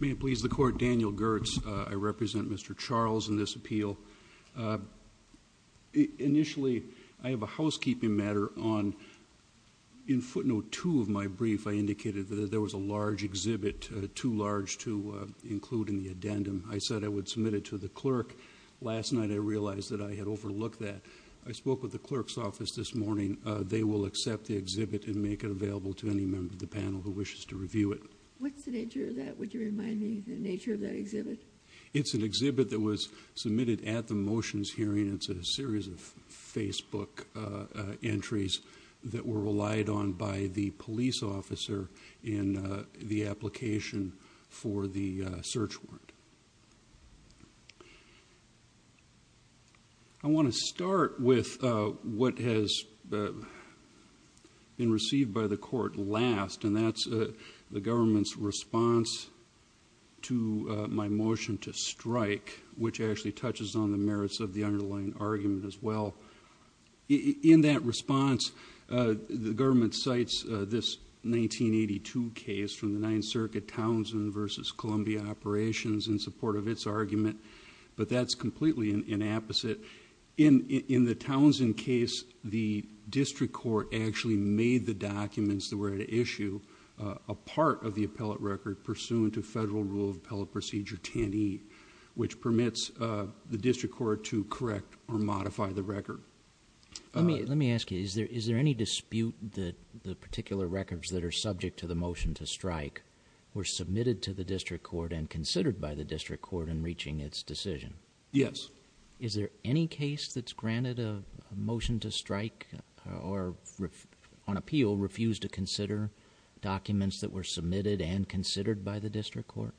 May it please the Court, Daniel Gertz, I represent Mr. Charles in this appeal. Initially I have a housekeeping matter on, in footnote 2 of my brief I indicated that there was a large exhibit, too large to include in the addendum. I said I would submit it to the clerk. Last night I realized that I had overlooked that. I spoke with the clerk's office this morning. They will accept the exhibit and make it available to any member of the panel who wishes to review it. What's the nature of that? Would you remind me the hearing. It's a series of Facebook entries that were relied on by the police officer in the application for the search warrant. I want to start with what has been received by the Court last and that's the government's response to my motion to strike, which actually touches on the merits of the underlying argument as well. In that response, the government cites this 1982 case from the 9th Circuit Townsend v. Columbia Operations in support of its argument, but that's completely inapposite. In the Townsend case, the district court actually made the documents that were at issue a part of the appellate record pursuant to Federal Rule of Appellate Procedure 10E, which permits the district court to correct or modify the record. Let me ask you, is there any dispute that the particular records that are subject to the motion to strike were submitted to the district court and considered by the district court in reaching its decision? Yes. Is there any case that's granted a motion to strike or on appeal refused to consider documents that were submitted and considered by the district court?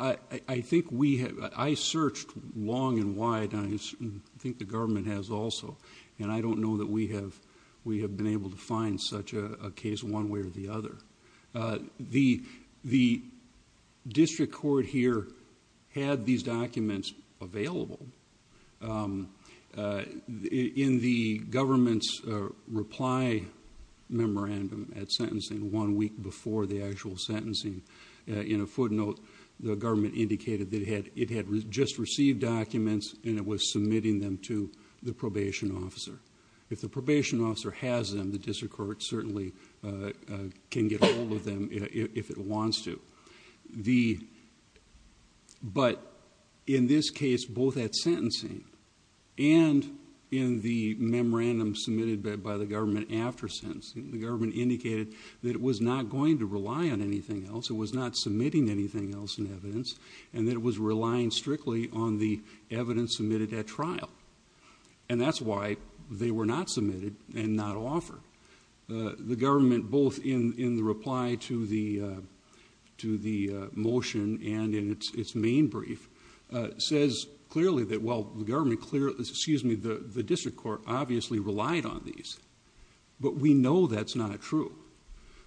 I searched long and wide and I think the government has also. I don't know that we have been able to find such a case one way or the other. The district court here had these documents available in the government's reply memorandum at sentencing one week before the actual sentencing. In a footnote, the government indicated that it had just received documents and it was submitting them to the probation officer. If the probation officer has them, the district court certainly can get hold of them if it wants to. But in this case, both at sentencing and in the memorandum submitted by the government after sentencing, the government indicated that it was not going to rely on anything else, it was not submitting anything else in evidence, and that it was relying strictly on the evidence submitted at trial. And that's why they were not submitted and not offered. The government, both in the reply to the motion and in its main brief, says clearly that while But we know that's not true.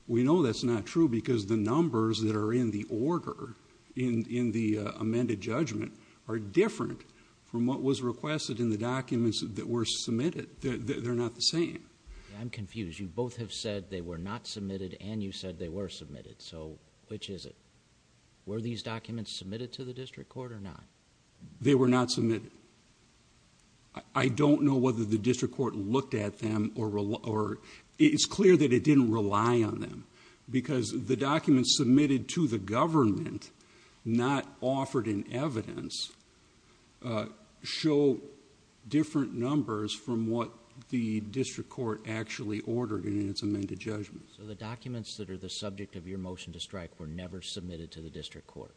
We know that's not true because the numbers that are in the order in the amended judgment are different from what was requested in the documents that were submitted. They're not the same. I'm confused. You both have said they were not submitted and you said they were submitted. So which is it? Were these documents submitted to the district court or not? They were not submitted. I don't know whether the district court looked at them or it's clear that it didn't rely on them because the documents submitted to the government, not offered in evidence, show different numbers from what the district court actually ordered in its amended judgment. So the documents that are the subject of your motion to strike were never submitted to the district court?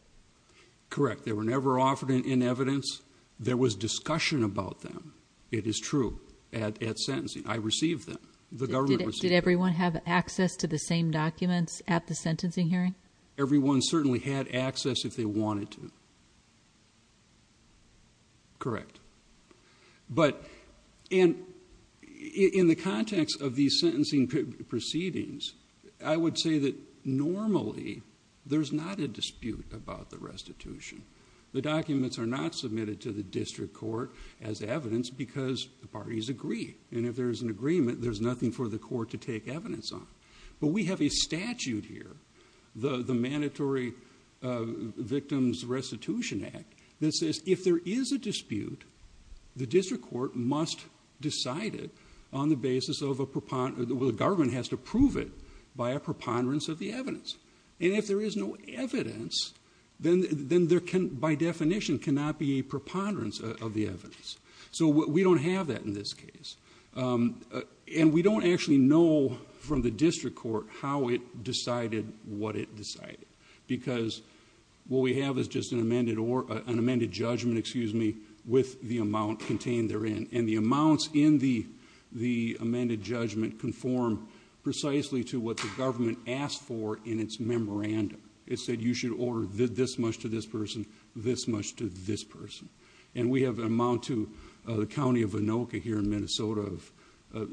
Correct. They were never offered in evidence. There was discussion about them. It is true at sentencing. I received them. The government received them. Did everyone have access to the same documents at the sentencing hearing? Everyone certainly had access if they wanted to. Correct. But in the context of these sentencing proceedings, I would say that normally there's not a dispute about the restitution. The documents are not submitted to the district court as evidence because the parties agree. And if there's an agreement, there's nothing for the court to take evidence on. But we have a statute here, the Mandatory Victims Restitution Act, that says if there is a dispute, the district court must decide it on the basis of a preponderance. The government has to prove it by a preponderance of the evidence. And if there is no evidence, then there can by definition cannot be a preponderance of the evidence. So we don't have that in this case. And we don't actually know from the district court how it decided what it decided. Because what we have is just an amended judgment with the amount contained therein. And the amounts in the amended judgment conform precisely to what the government asked for in its memorandum. It said you should order this much to this person, this much to this person. And we have an amount to the county of Anoka here in Minnesota of a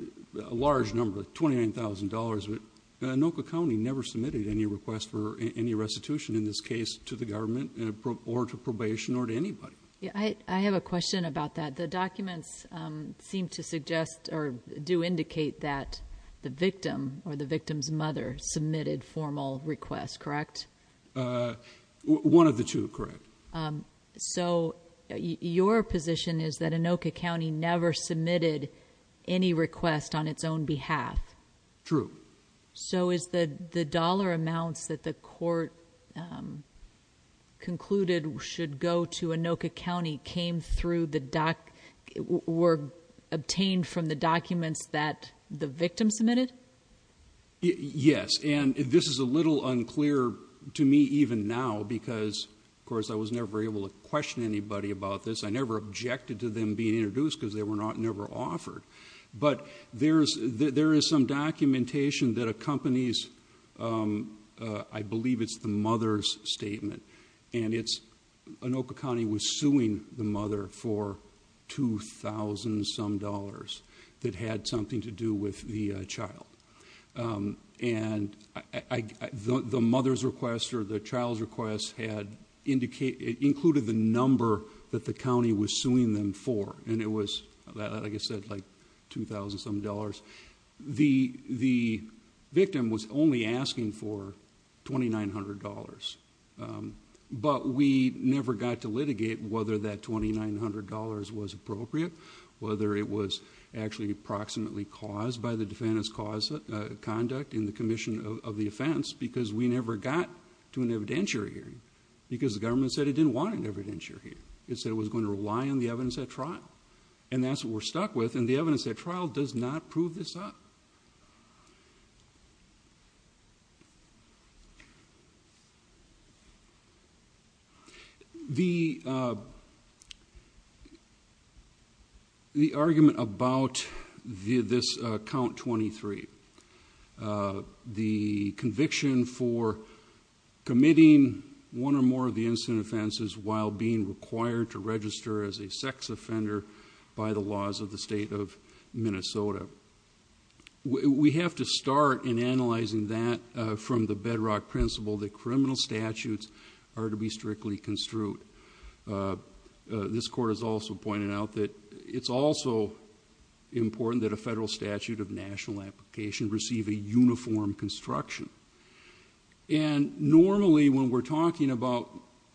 large number, $29,000. Anoka County never submitted any request for any restitution in this case to the government or to probation or to anybody. I have a question about that. The documents seem to suggest or do indicate that the victim or the victim's mother submitted formal requests, correct? One of the two, correct. So your position is that Anoka County never submitted any request on its own behalf? True. So is the dollar amounts that the court concluded should go to Anoka County came through the dollar obtained from the documents that the victim submitted? Yes. And this is a little unclear to me even now because, of course, I was never able to question anybody about this. I never objected to them being introduced because they were not never offered. But there is some documentation that accompanies, I believe it's the mother's request. Anoka County was suing the mother for $2,000 some dollars that had something to do with the child. And the mother's request or the child's request had included the number that the county was suing them for. And it was, like I said, like $2,000 some dollars. The victim was only asking for $2,900. But we never got to litigate whether that $2,900 was appropriate, whether it was actually approximately caused by the defendant's conduct in the commission of the offense because we never got to an evidentiary hearing because the government said it didn't want an evidentiary hearing. It said it was going to rely on the evidence at trial. And that's what we're stuck with. And the evidence at trial does not prove this up. The argument about this Count 23, the conviction for committing one or more of the incident offenses while being required to register as a sex offender by the laws of the state of Minnesota. We have to start in analyzing that from the bedrock principle that criminal statutes are to be strictly construed. This court has also pointed out that it's also important that a federal statute of national application receive a uniform construction. And normally when we're talking about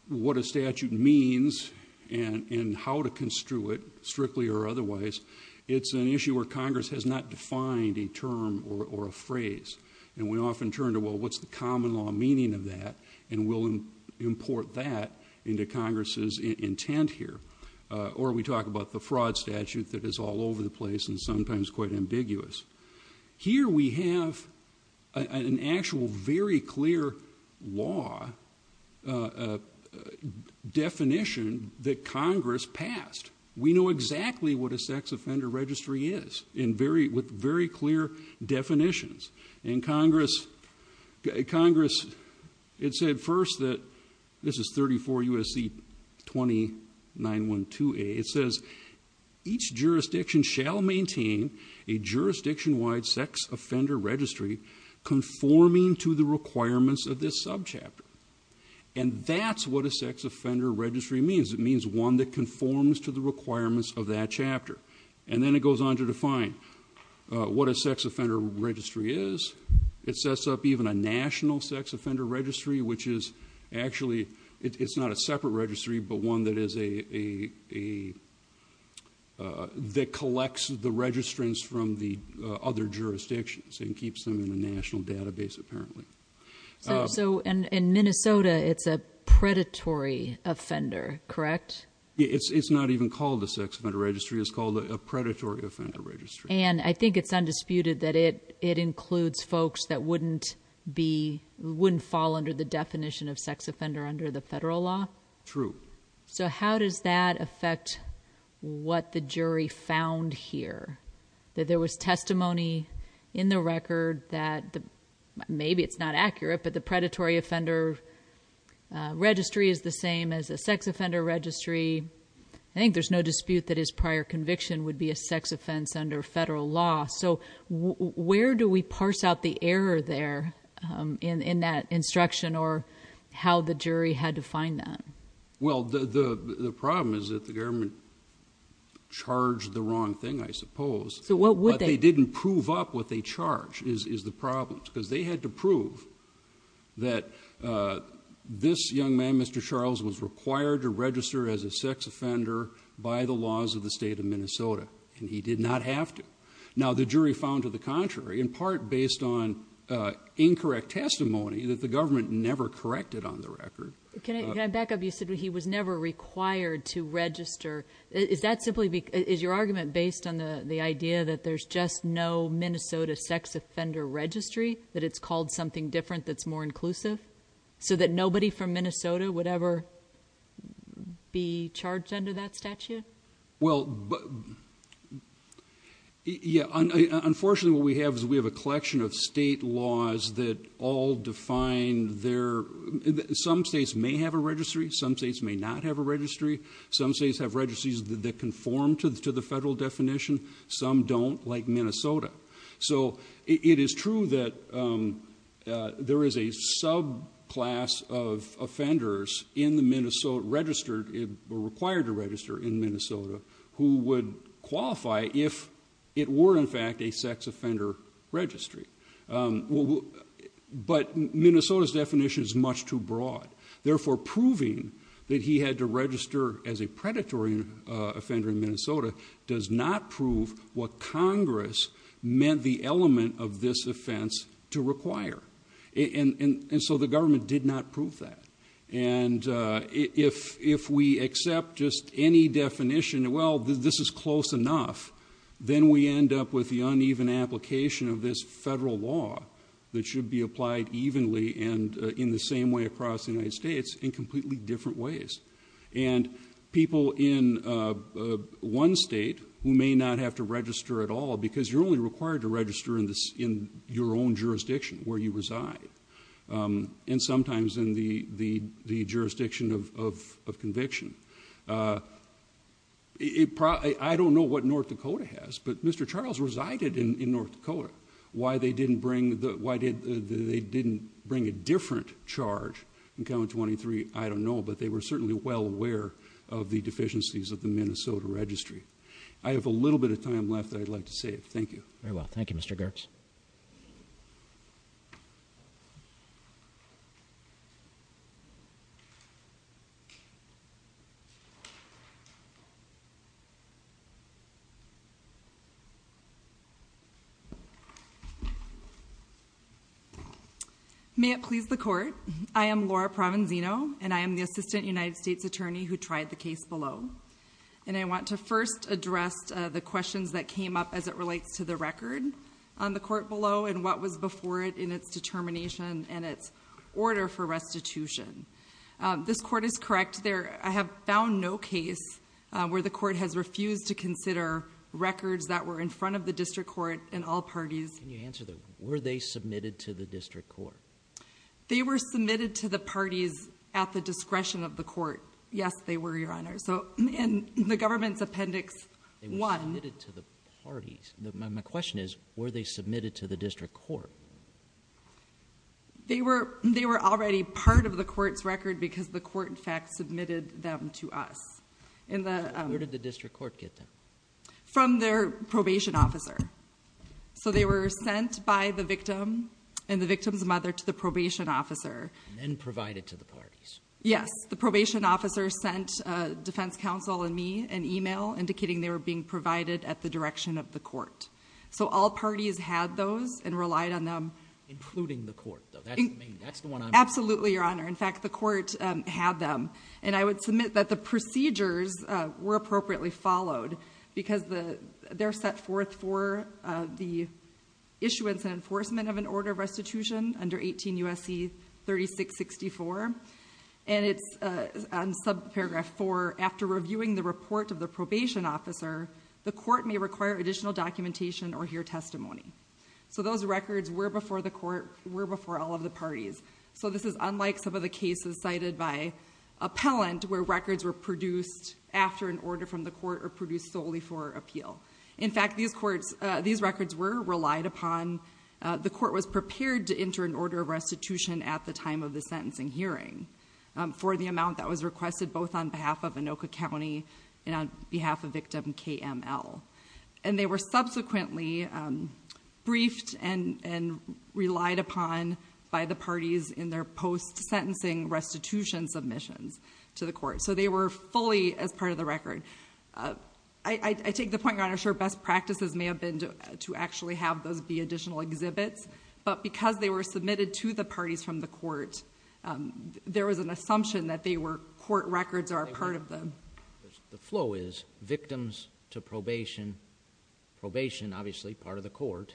what a statute means and how to construe it, strictly or otherwise, it's an issue where Congress has not defined a term or a phrase. And we often turn to, well, what's the common law meaning of that? And we'll import that into Congress's intent here. Or we talk about the fraud statute that is all over the place and sometimes quite ambiguous. Here we have an actual very clear law definition that Congress passed. We know exactly what a sex offender registry is with very clear definitions. And Congress, it said first that, this is 34 U.S.C. 2912A, it says each jurisdiction shall maintain a jurisdiction-wide sex offender registry conforming to the requirements of this subchapter. And that's what a sex offender registry means. It means one that conforms to the requirements of that chapter. And then it goes on to define what a sex offender registry is. It sets up even a national sex offender registry, which is actually, it's not a separate sex offender registry, but one that is a, that collects the registrants from the other jurisdictions and keeps them in a national database, apparently. So in Minnesota, it's a predatory offender, correct? It's not even called a sex offender registry. It's called a predatory offender registry. And I think it's undisputed that it includes folks that wouldn't be, wouldn't fall under the definition of sex offender under the federal law. True. So how does that affect what the jury found here? That there was testimony in the record that, maybe it's not accurate, but the predatory offender registry is the same as a sex offender registry. I think there's no dispute that his prior conviction would be a sex offense under federal law. So where do we parse out the error there in that instruction, or how the jury had to find that? Well, the problem is that the government charged the wrong thing, I suppose. So what would they? But they didn't prove up what they charged, is the problem. Because they had to prove that this young man, Mr. Charles, was required to register as a sex offender by the laws of the state of Minnesota. And he did not have to. Now, the jury found to the contrary, in part based on incorrect testimony that the government never corrected on the record. Can I back up? You said he was never required to register. Is that simply, is your argument based on the idea that there's just no Minnesota sex offender registry? That it's called something different that's more inclusive? So that nobody from Minnesota would ever be charged under that statute? Well, yeah. Unfortunately, what we have is we have a collection of state laws that all define their, some states may have a registry, some states may not have a registry. Some states have registries that conform to the federal definition. Some don't, like Minnesota. So it is true that there is a subclass of offenders in the Minnesota, registered, required to register in Minnesota who would qualify if it were in fact a sex offender registry. But Minnesota's definition is much too broad. Therefore, proving that he had to register as a predatory offender in Minnesota does not prove what Congress meant the element of this offense to require. And so the government did not prove that. And if we accept just any definition, well, this is close enough, then we end up with the uneven application of this federal law that should be applied evenly and in the same way across the United States in completely different ways. And people in one state who may not have to register at all, because you're only required to register in your own jurisdiction where you reside, and sometimes in the jurisdiction of conviction. I don't know what North Dakota has, but Mr. Charles resided in North Dakota. Why they didn't bring a different charge in County 23, I don't know, but they were certainly well aware of the deficiencies of the Minnesota registry. I have a little bit of time left that I'd like to save. Thank you. Very well. Thank you, Mr. Gertz. May it please the court. I am Laura Provenzino, and I am the Assistant United States Attorney who tried the case below. And I want to first address the questions that came up as it relates to the record on the court below and what was before it in its determination and its order for restitution. This court is correct. I have found no case where the court has refused to consider records that were in front of the district court in all parties. Can you answer that? Were they submitted to the district court? They were submitted to the parties at the discretion of the court. Yes, they were, Your Honor. So in the government's appendix one. Submitted to the parties. My question is, were they submitted to the district court? They were already part of the court's record because the court in fact submitted them to us. Where did the district court get them? From their probation officer. So they were sent by the victim and the victim's mother to the probation officer. And provided to the parties. Yes, the probation officer sent defense counsel and me an email indicating they were being provided at the direction of the court. So all parties had those and relied on them. Including the court though. That's the one I'm- Absolutely, Your Honor. In fact, the court had them. And I would submit that the procedures were appropriately followed because they're set forth for the issuance and enforcement of an order of restitution under 18 U.S.C. 3664. And it's on subparagraph four, after reviewing the report of the probation officer, the court may require additional documentation or hear testimony. So those records were before the court, were before all of the parties. So this is unlike some of the cases cited by appellant where records were produced after an order from the court or produced solely for appeal. In fact, these records were relied upon. The court was prepared to enter an order of restitution at the time of the sentencing hearing. For the amount that was requested both on behalf of Anoka County and on behalf of victim KML. And they were subsequently briefed and relied upon by the parties in their post-sentencing restitution submissions to the court. So they were fully as part of the record. I take the point, Your Honor, sure best practices may have been to actually have those be additional exhibits. But because they were submitted to the parties from the court, there was an assumption that they were court records are part of them. The flow is victims to probation, probation, obviously part of the court,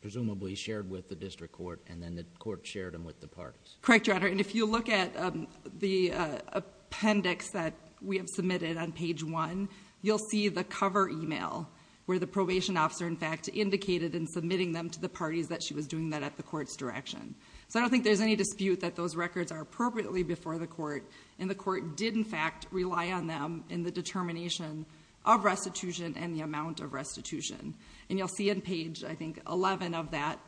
presumably shared with the district court, and then the court shared them with the parties. Correct, Your Honor. And if you look at the appendix that we have submitted on page one, indicated in submitting them to the parties that she was doing that at the court's direction. So I don't think there's any dispute that those records are appropriately before the court. And the court did, in fact, rely on them in the determination of restitution and the amount of restitution. And you'll see in page, I think, 11 of that,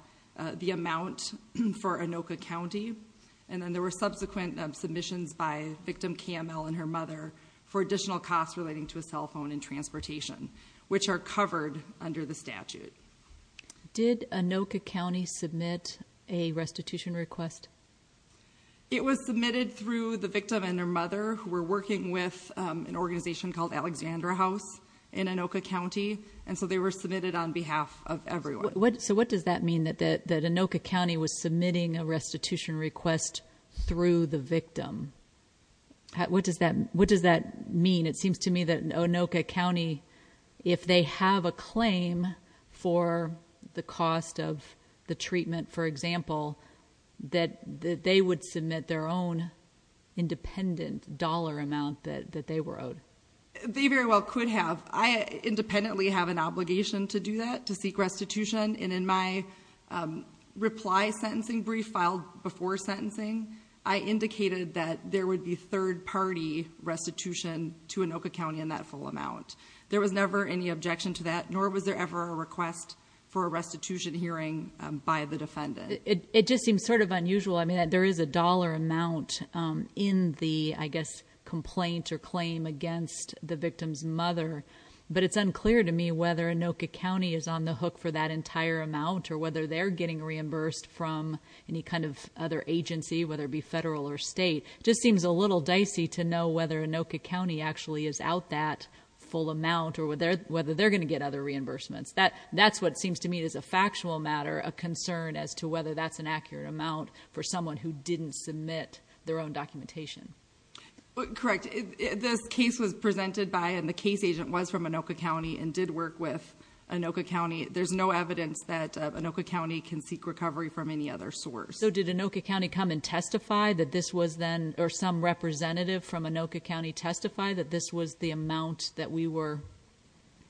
the amount for Anoka County. And then there were subsequent submissions by victim KML and her mother for additional costs relating to cell phone and transportation, which are covered under the statute. Did Anoka County submit a restitution request? It was submitted through the victim and her mother who were working with an organization called Alexandra House in Anoka County. And so they were submitted on behalf of everyone. So what does that mean that Anoka County was submitting a restitution request through the Anoka County if they have a claim for the cost of the treatment, for example, that they would submit their own independent dollar amount that they were owed? They very well could have. I independently have an obligation to do that, to seek restitution. And in my reply sentencing brief filed before sentencing, I indicated that there would be There was never any objection to that, nor was there ever a request for a restitution hearing by the defendant. It just seems sort of unusual. I mean, there is a dollar amount in the, I guess, complaint or claim against the victim's mother. But it's unclear to me whether Anoka County is on the hook for that entire amount or whether they're getting reimbursed from any kind of other agency, whether it be federal or state. Just seems a little dicey to know whether Anoka actually is out that full amount or whether they're going to get other reimbursements. That's what seems to me is a factual matter, a concern as to whether that's an accurate amount for someone who didn't submit their own documentation. Correct. This case was presented by and the case agent was from Anoka County and did work with Anoka County. There's no evidence that Anoka County can seek recovery from any other source. So did Anoka County come and testify that this was then or some representative from that this was the amount that we were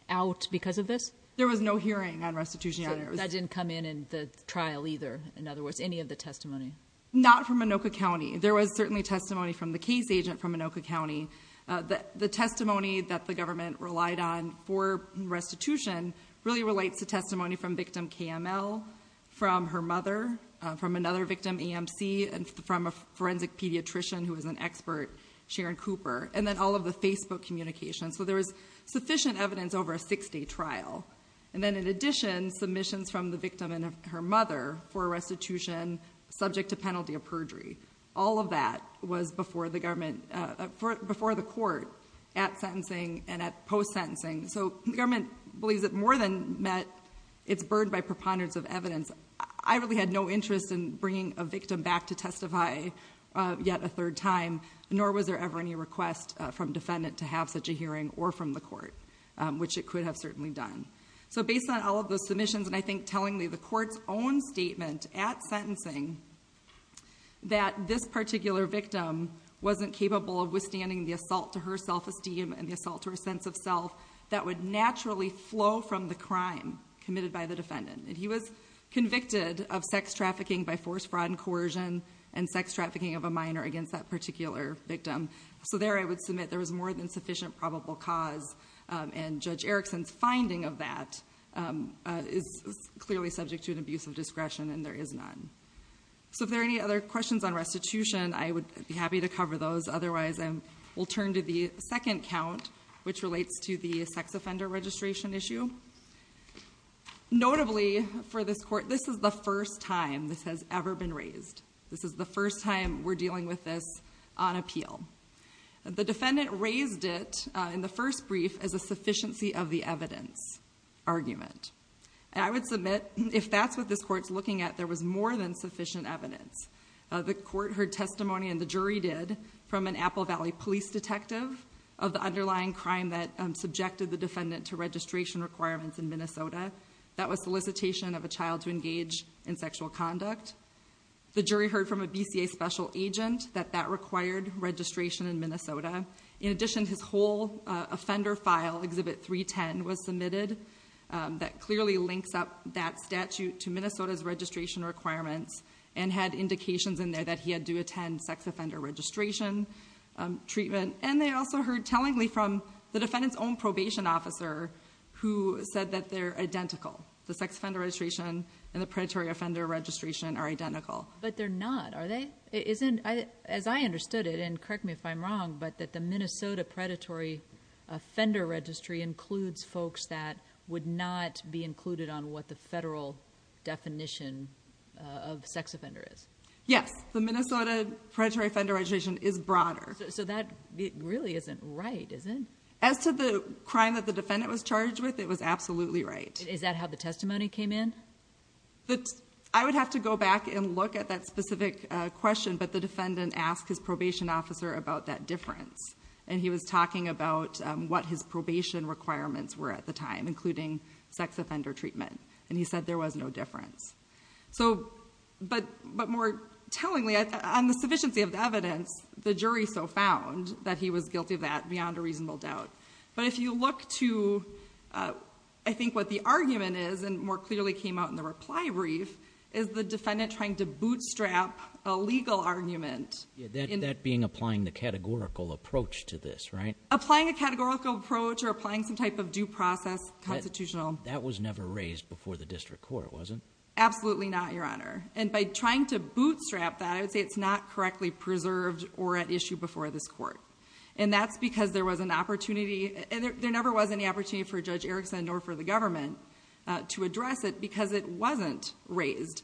out because of this? There was no hearing on restitution. That didn't come in the trial either. In other words, any of the testimony? Not from Anoka County. There was certainly testimony from the case agent from Anoka County. The testimony that the government relied on for restitution really relates to testimony from victim KML, from her mother, from another victim EMC, and from a forensic pediatrician who was an Facebook communication. So there was sufficient evidence over a six-day trial. And then in addition, submissions from the victim and her mother for restitution subject to penalty of perjury. All of that was before the government, before the court at sentencing and at post-sentencing. So the government believes it more than met its burden by preponderance of evidence. I really had no interest in bringing a victim back to testify yet a third time, nor was there ever any request from defendant to have such a hearing or from the court, which it could have certainly done. So based on all of those submissions, and I think telling me the court's own statement at sentencing that this particular victim wasn't capable of withstanding the assault to her self-esteem and the assault to her sense of self that would naturally flow from the crime committed by the defendant. He was convicted of sex trafficking by force, fraud, and coercion, and sex trafficking of a minor against that particular victim. So there I would submit there was more than sufficient probable cause. And Judge Erickson's finding of that is clearly subject to an abuse of discretion, and there is none. So if there are any other questions on restitution, I would be happy to cover those. Otherwise, I will turn to the second count, which relates to the sex offender registration issue. Notably, for this court, this is the first time this has ever been raised. This is the first time we're dealing with this on appeal. The defendant raised it in the first brief as a sufficiency of the evidence argument. And I would submit if that's what this court's looking at, there was more than sufficient evidence. The court heard testimony, and the jury did, from an Apple Valley police detective of the underlying crime that subjected the defendant to registration requirements in Minnesota. That was solicitation of a child to engage in sexual conduct. The jury heard from a BCA special agent that that required registration in Minnesota. In addition, his whole offender file, Exhibit 310, was submitted. That clearly links up that statute to Minnesota's registration requirements, and had indications in there that he had to attend sex offender registration treatment. And they also heard tellingly from the defendant's own probation officer, who said that they're identical. The sex offender registration and the predatory offender registration are identical. But they're not, are they? As I understood it, and correct me if I'm wrong, but that the Minnesota predatory offender registry includes folks that would not be included on what the federal definition of sex offender is. Yes, the Minnesota predatory offender registration is broader. So that really isn't right, is it? As to the crime that the defendant was charged with, it was absolutely right. Is that how the testimony came in? I would have to go back and look at that specific question, but the defendant asked his probation officer about that difference. And he was talking about what his probation requirements were at the time, including sex offender treatment. And he said there was no difference. So, but more tellingly, on the sufficiency of the evidence, the jury so found that he was guilty of that beyond a reasonable doubt. But if you look to, I think what the argument is, and more clearly came out in the reply brief, is the defendant trying to bootstrap a legal argument. Yeah, that being applying the categorical approach to this, right? Applying a categorical approach or applying some type of due process, constitutional. That was never raised before the district court, was it? Absolutely not, Your Honor. And by trying to bootstrap that, I would say it's not correctly preserved or at issue before this court. And that's because there was an opportunity, there never was any opportunity for Judge Erickson nor for the government to address it because it wasn't raised.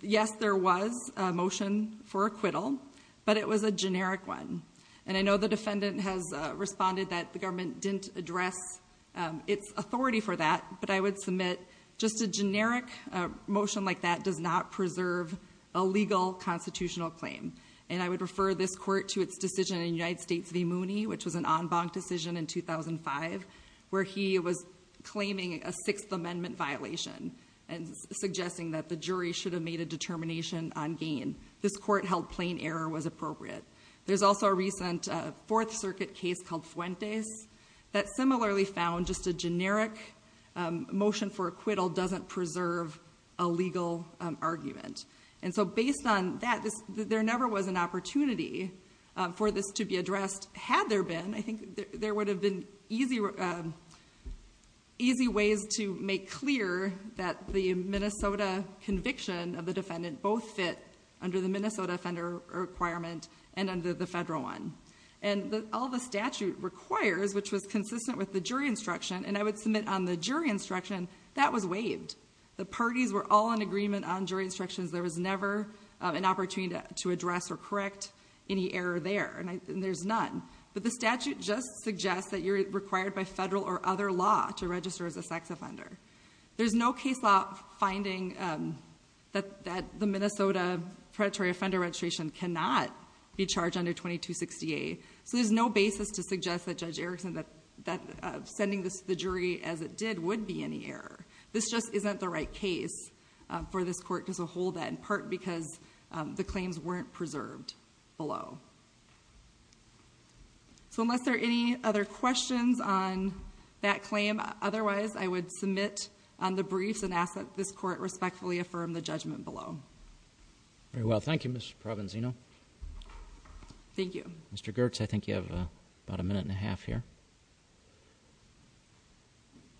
Yes, there was a motion for acquittal, but it was a generic one. And I know the defendant has responded that the government didn't address its authority for that. But I would submit just a generic motion like that does not preserve a legal constitutional claim. And I would refer this court to its decision in United States v. Mooney, which was an en banc decision in 2005, where he was claiming a Sixth Amendment violation and suggesting that the jury should have made a determination on gain. This court held plain error was appropriate. There's also a recent Fourth Circuit case called Fuentes that similarly found just a generic motion for acquittal doesn't preserve a legal argument. And so based on that, there never was an opportunity for this to be addressed had there been. I think there would have been easy ways to make clear that the Minnesota conviction of the defendant both fit under the Minnesota offender requirement and under the federal one. And all the statute requires, which was consistent with the jury instruction, and I would submit on the jury instruction, that was waived. The parties were all in agreement on jury instructions. There was never an opportunity to address or correct any error there. And there's none. But the statute just suggests that you're required by federal or other law to register as a sex offender. There's no case law finding that the Minnesota predatory offender registration cannot be charged under 2268. So there's no basis to suggest that Judge Erickson that sending this to the jury as it did would be any error. This just isn't the right case for this court to hold that, in part because the claims weren't preserved below. So unless there are any other questions on that claim, otherwise I would submit on the briefs and ask that this court respectfully affirm the judgment below. Very well. Thank you, Ms. Provenzino. Thank you. Mr. Girtz, I think you have about a minute and a half here.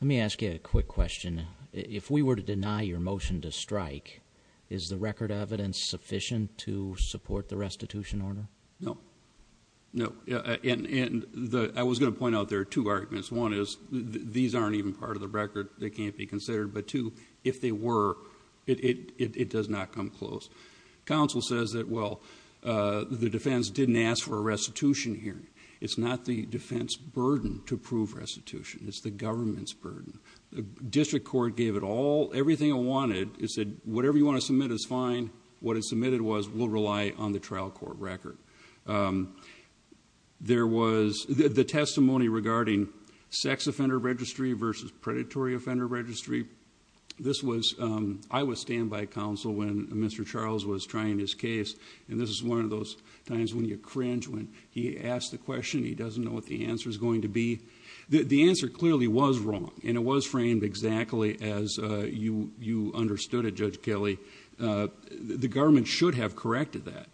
Let me ask you a quick question. If we were to deny your motion to strike, is the record evidence sufficient to support the restitution order? No. No. And I was going to point out there are two arguments. One is these aren't even part of the record. They can't be considered. But two, if they were, it does not come close. Counsel says that, well, the defense didn't ask for a restitution hearing. It's not the defense burden to prove restitution. It's the government's burden. The district court gave it all, everything it wanted. It said, whatever you want to submit is fine. What it submitted was, we'll rely on the trial court record. There was the testimony regarding sex offender registry versus predatory offender registry. I was standby counsel when Mr. Charles was trying his case. And this is one of those times when you cringe, when he asks the question, he doesn't know what the answer is going to be. The answer clearly was wrong. And it was framed exactly as you understood it, Judge Kelly. The government should have corrected that.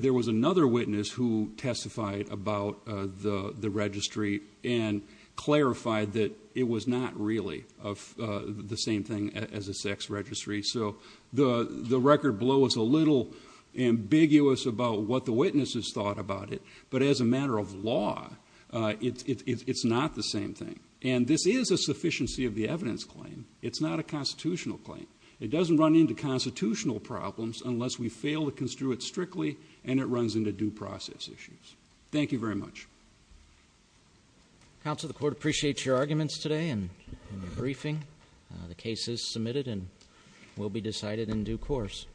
There was another witness who testified about the registry and clarified that it was not really the same thing as a sex registry. So the record below is a little ambiguous about what the witnesses thought about it. But as a matter of law, it's not the same thing. And this is a sufficiency of the evidence claim. It's not a constitutional claim. It doesn't run into constitutional problems unless we fail to construe it strictly and it runs into due process issues. Thank you very much. Counsel, the court appreciates your arguments today and the briefing. The case is submitted and will be decided in due course.